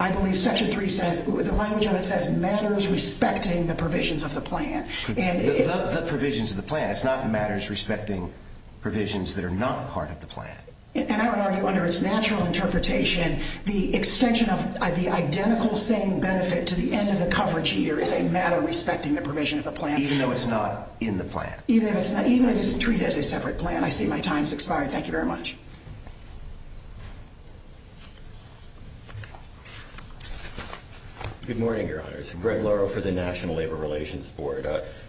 I believe Section 3 says, the language of it says matters respecting the provisions of the plan. The provisions of the plan. It's not matters respecting provisions that are not part of the plan. And I would argue under its natural interpretation, the extension of the identical same benefit to the end of the coverage year is a matter respecting the provision of the plan. Even though it's not in the plan. Even if it's treated as a separate plan. I see my time has expired. Thank you very much. Good morning, Your Honors. Greg Laro for the National Labor Relations Board.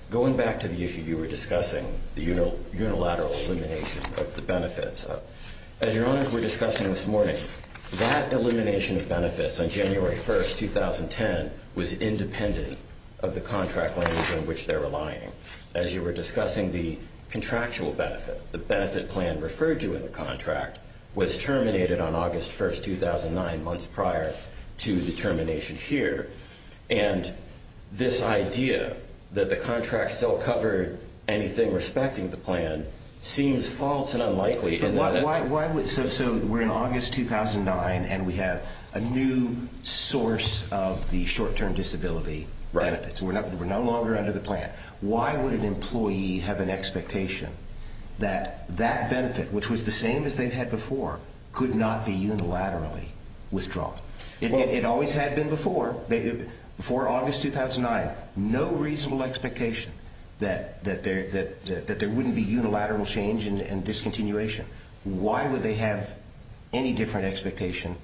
Going back to the issue you were discussing, the unilateral elimination of the benefits. As Your Honors were discussing this morning, that elimination of benefits on January 1st, 2010, was independent of the contract language in which they're relying. As you were discussing, the contractual benefit, the benefit plan referred to in the contract, was terminated on August 1st, 2009, months prior to the termination here. And this idea that the contracts don't cover anything respecting the plan seems false and unlikely. So we're in August 2009 and we have a new source of the short-term disability benefits. We're no longer under the plan. Why would an employee have an expectation that that benefit, which was the same as they had before, could not be unilaterally withdrawn? It always had been before. Before August 2009, no reasonable expectation that there wouldn't be unilateral change and discontinuation. Why would they have any different expectation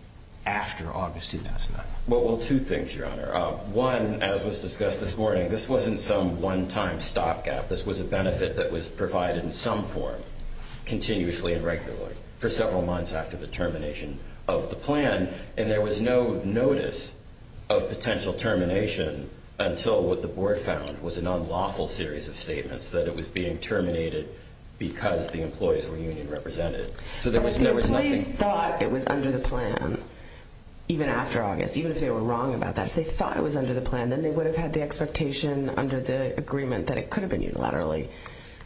after August 2009? Well, two things, Your Honor. One, as was discussed this morning, this wasn't some one-time stopgap. This was a benefit that was provided in some form, continuously and regularly, for several months after the termination of the plan. And there was no notice of potential termination until what the board found was an unlawful series of statements that it was being terminated because the employees were union represented. So there was nothing... But if the employees thought it was under the plan, even after August, even if they were wrong about that, if they thought it was under the plan, then they would have had the expectation under the agreement that it could have been unilaterally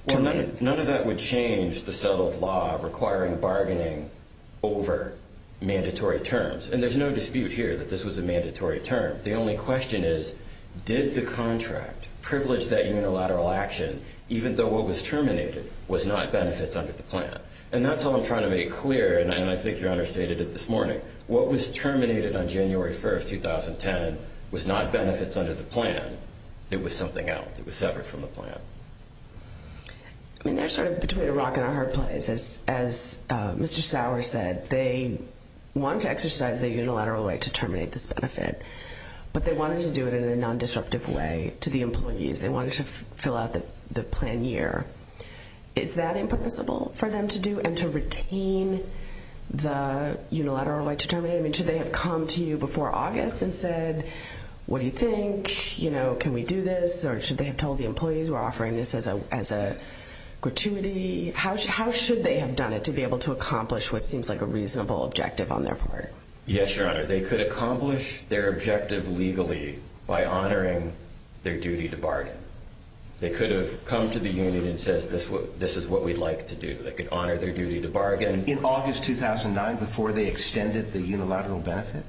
terminated. None of that would change the settled law requiring bargaining over mandatory terms. And there's no dispute here that this was a mandatory term. The only question is, did the contract privilege that unilateral action even though what was terminated was not benefits under the plan? And that's all I'm trying to make clear, and I think Your Honor stated it this morning. What was terminated on January 1, 2010, was not benefits under the plan. It was something else. It was separate from the plan. I mean, they're sort of between a rock and a hard place. As Mr. Sauer said, they wanted to exercise their unilateral right to terminate this benefit, but they wanted to do it in a non-disruptive way to the employees. They wanted to fill out the plan year. Is that impermissible for them to do and to retain the unilateral right to terminate? I mean, should they have come to you before August and said, what do you think? You know, can we do this, or should they have told the employees we're offering this as a gratuity? How should they have done it to be able to accomplish what seems like a reasonable objective on their part? Yes, Your Honor, they could accomplish their objective legally by honoring their duty to bargain. They could have come to the union and said, this is what we'd like to do. They could honor their duty to bargain. In August 2009, before they extended the unilateral benefit?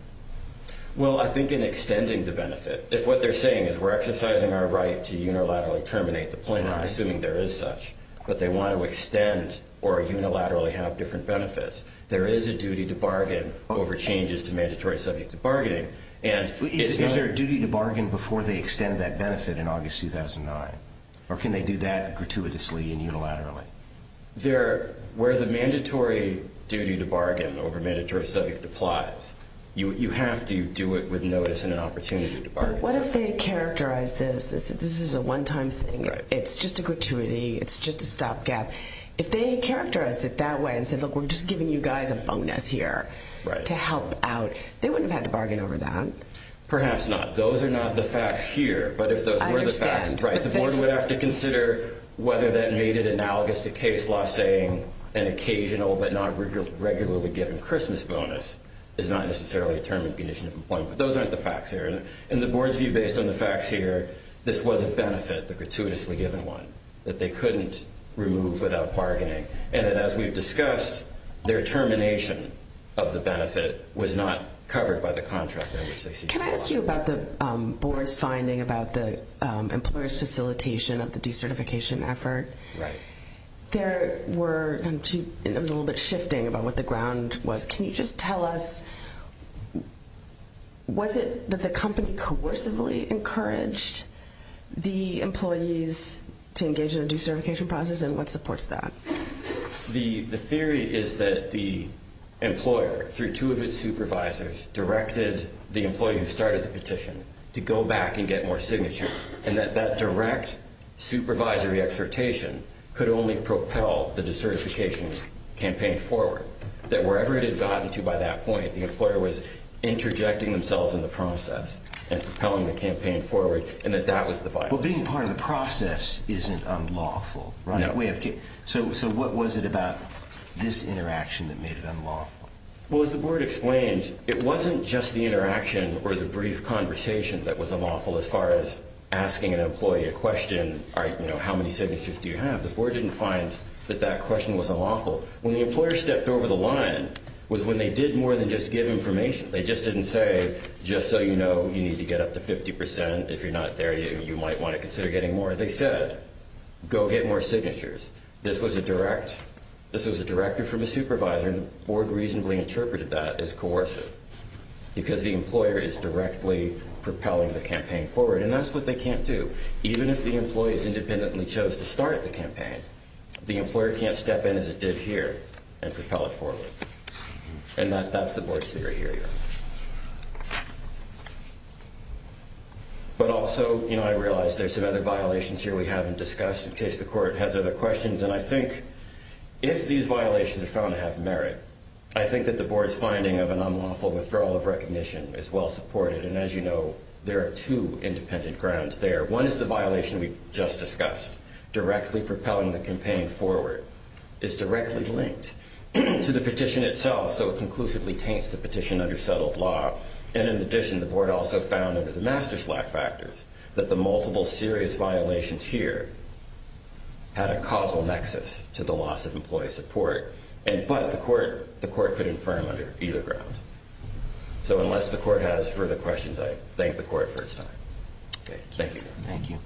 Well, I think in extending the benefit, if what they're saying is we're exercising our right to unilaterally terminate the plan, I'm assuming there is such, but they want to extend or unilaterally have different benefits. There is a duty to bargain over changes to mandatory subject to bargaining. Is there a duty to bargain before they extend that benefit in August 2009, or can they do that gratuitously and unilaterally? Where the mandatory duty to bargain over mandatory subject applies, you have to do it with notice and an opportunity to bargain. But what if they characterized this as this is a one-time thing, it's just a gratuity, it's just a stopgap. If they characterized it that way and said, look, we're just giving you guys a bonus here to help out, they wouldn't have had to bargain over that. Perhaps not. Those are not the facts here. But if those were the facts, the board would have to consider whether that made it analogous to case law saying an occasional but not regularly given Christmas bonus is not necessarily a termination of employment. But those aren't the facts here. In the board's view, based on the facts here, this was a benefit, the gratuitously given one, that they couldn't remove without bargaining. And as we've discussed, their termination of the benefit was not covered by the contract. Can I ask you about the board's finding about the employer's facilitation of the decertification effort? Right. There were, it was a little bit shifting about what the ground was. Can you just tell us, was it that the company coercively encouraged the employees to engage in a decertification process, and what supports that? The theory is that the employer, through two of its supervisors, directed the employee who started the petition to go back and get more signatures, and that that direct supervisory exhortation could only propel the decertification campaign forward. That wherever it had gotten to by that point, the employer was interjecting themselves in the process and propelling the campaign forward, and that that was the violation. Well, being part of the process isn't unlawful, right? No. So what was it about this interaction that made it unlawful? Well, as the board explained, it wasn't just the interaction or the brief conversation that was unlawful as far as asking an employee a question, you know, how many signatures do you have? The board didn't find that that question was unlawful. When the employer stepped over the line was when they did more than just give information. They just didn't say, just so you know, you need to get up to 50 percent. If you're not there, you might want to consider getting more. You know, they said, go get more signatures. This was a direct, this was a directive from a supervisor, and the board reasonably interpreted that as coercive because the employer is directly propelling the campaign forward, and that's what they can't do. Even if the employees independently chose to start the campaign, the employer can't step in as it did here and propel it forward, and that's the board's theory here. But also, you know, I realize there's some other violations here we haven't discussed, in case the court has other questions, and I think if these violations are found to have merit, I think that the board's finding of an unlawful withdrawal of recognition is well supported, and as you know, there are two independent grounds there. One is the violation we just discussed, directly propelling the campaign forward. It's directly linked to the petition itself, so it conclusively taints the petition under settled law, and in addition, the board also found under the master slack factors that the multiple serious violations here had a causal nexus to the loss of employee support, but the court could infirm under either ground. So unless the court has further questions, I thank the court for its time. Thank you. Thank you.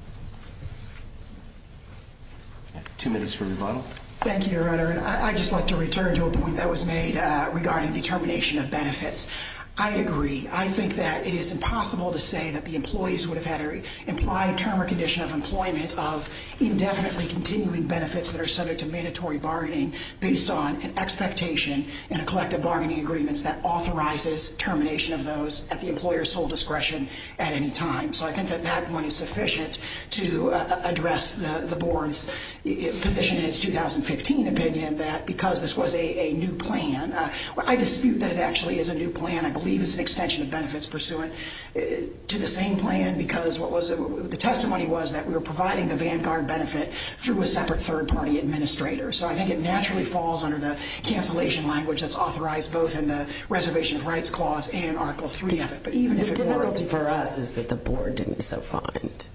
Two minutes for rebuttal. Thank you, Your Honor, and I'd just like to return to a point that was made. Regarding the termination of benefits, I agree. I think that it is impossible to say that the employees would have had an implied term or condition of employment of indefinitely continuing benefits that are subject to mandatory bargaining based on an expectation in a collective bargaining agreement that authorizes termination of those at the employer's sole discretion at any time. So I think that that point is sufficient to address the board's position in its 2015 opinion that because this was a new plan, I dispute that it actually is a new plan. I believe it's an extension of benefits pursuant to the same plan because the testimony was that we were providing the Vanguard benefit through a separate third-party administrator. So I think it naturally falls under the cancellation language that's authorized both in the Reservation of Rights Clause and Article 3 of it. The difficulty for us is that the board didn't so find.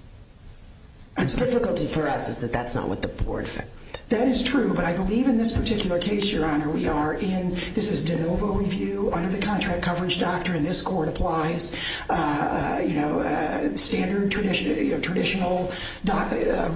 The difficulty for us is that that's not what the board found. That is true, but I believe in this particular case, Your Honor, we are in this is de novo review under the contract coverage doctrine. This court applies standard traditional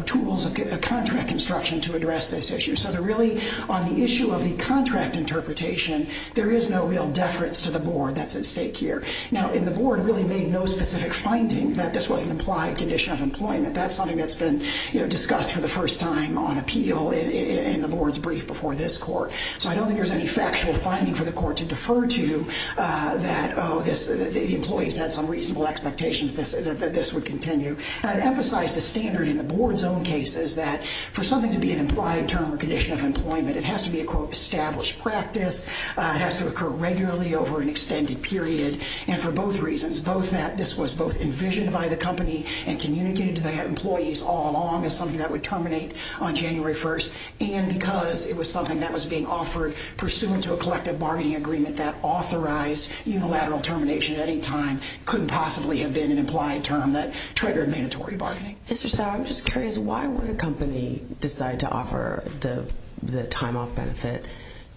tools of contract instruction to address this issue. So really on the issue of the contract interpretation, there is no real deference to the board that's at stake here. Now, and the board really made no specific finding that this was an implied condition of employment. That's something that's been discussed for the first time on appeal in the board's brief before this court. So I don't think there's any factual finding for the court to defer to that, oh, the employees had some reasonable expectations that this would continue. And I'd emphasize the standard in the board's own case is that for something to be an implied term or condition of employment, it has to be a, quote, established practice. It has to occur regularly over an extended period. And for both reasons, both that this was both envisioned by the company and communicated to the employees all along as something that would terminate on January 1st, and because it was something that was being offered pursuant to a collective bargaining agreement that authorized unilateral termination at any time couldn't possibly have been an implied term that triggered mandatory bargaining. Mr. Sauer, I'm just curious, why would a company decide to offer the time-off benefit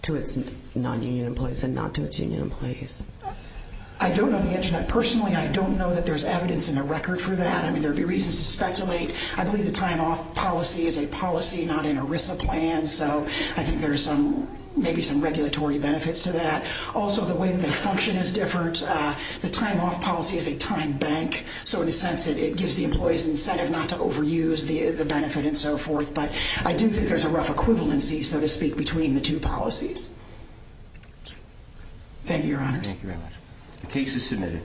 to its non-union employees and not to its union employees? I don't know the answer to that. Personally, I don't know that there's evidence in the record for that. I mean, there would be reasons to speculate. I believe the time-off policy is a policy, not an ERISA plan, so I think there's maybe some regulatory benefits to that. Also, the way that they function is different. The time-off policy is a time bank, so in a sense it gives the employees an incentive not to overuse the benefit and so forth. But I do think there's a rough equivalency, so to speak, between the two policies. Thank you, Your Honors. Thank you very much. The case is submitted.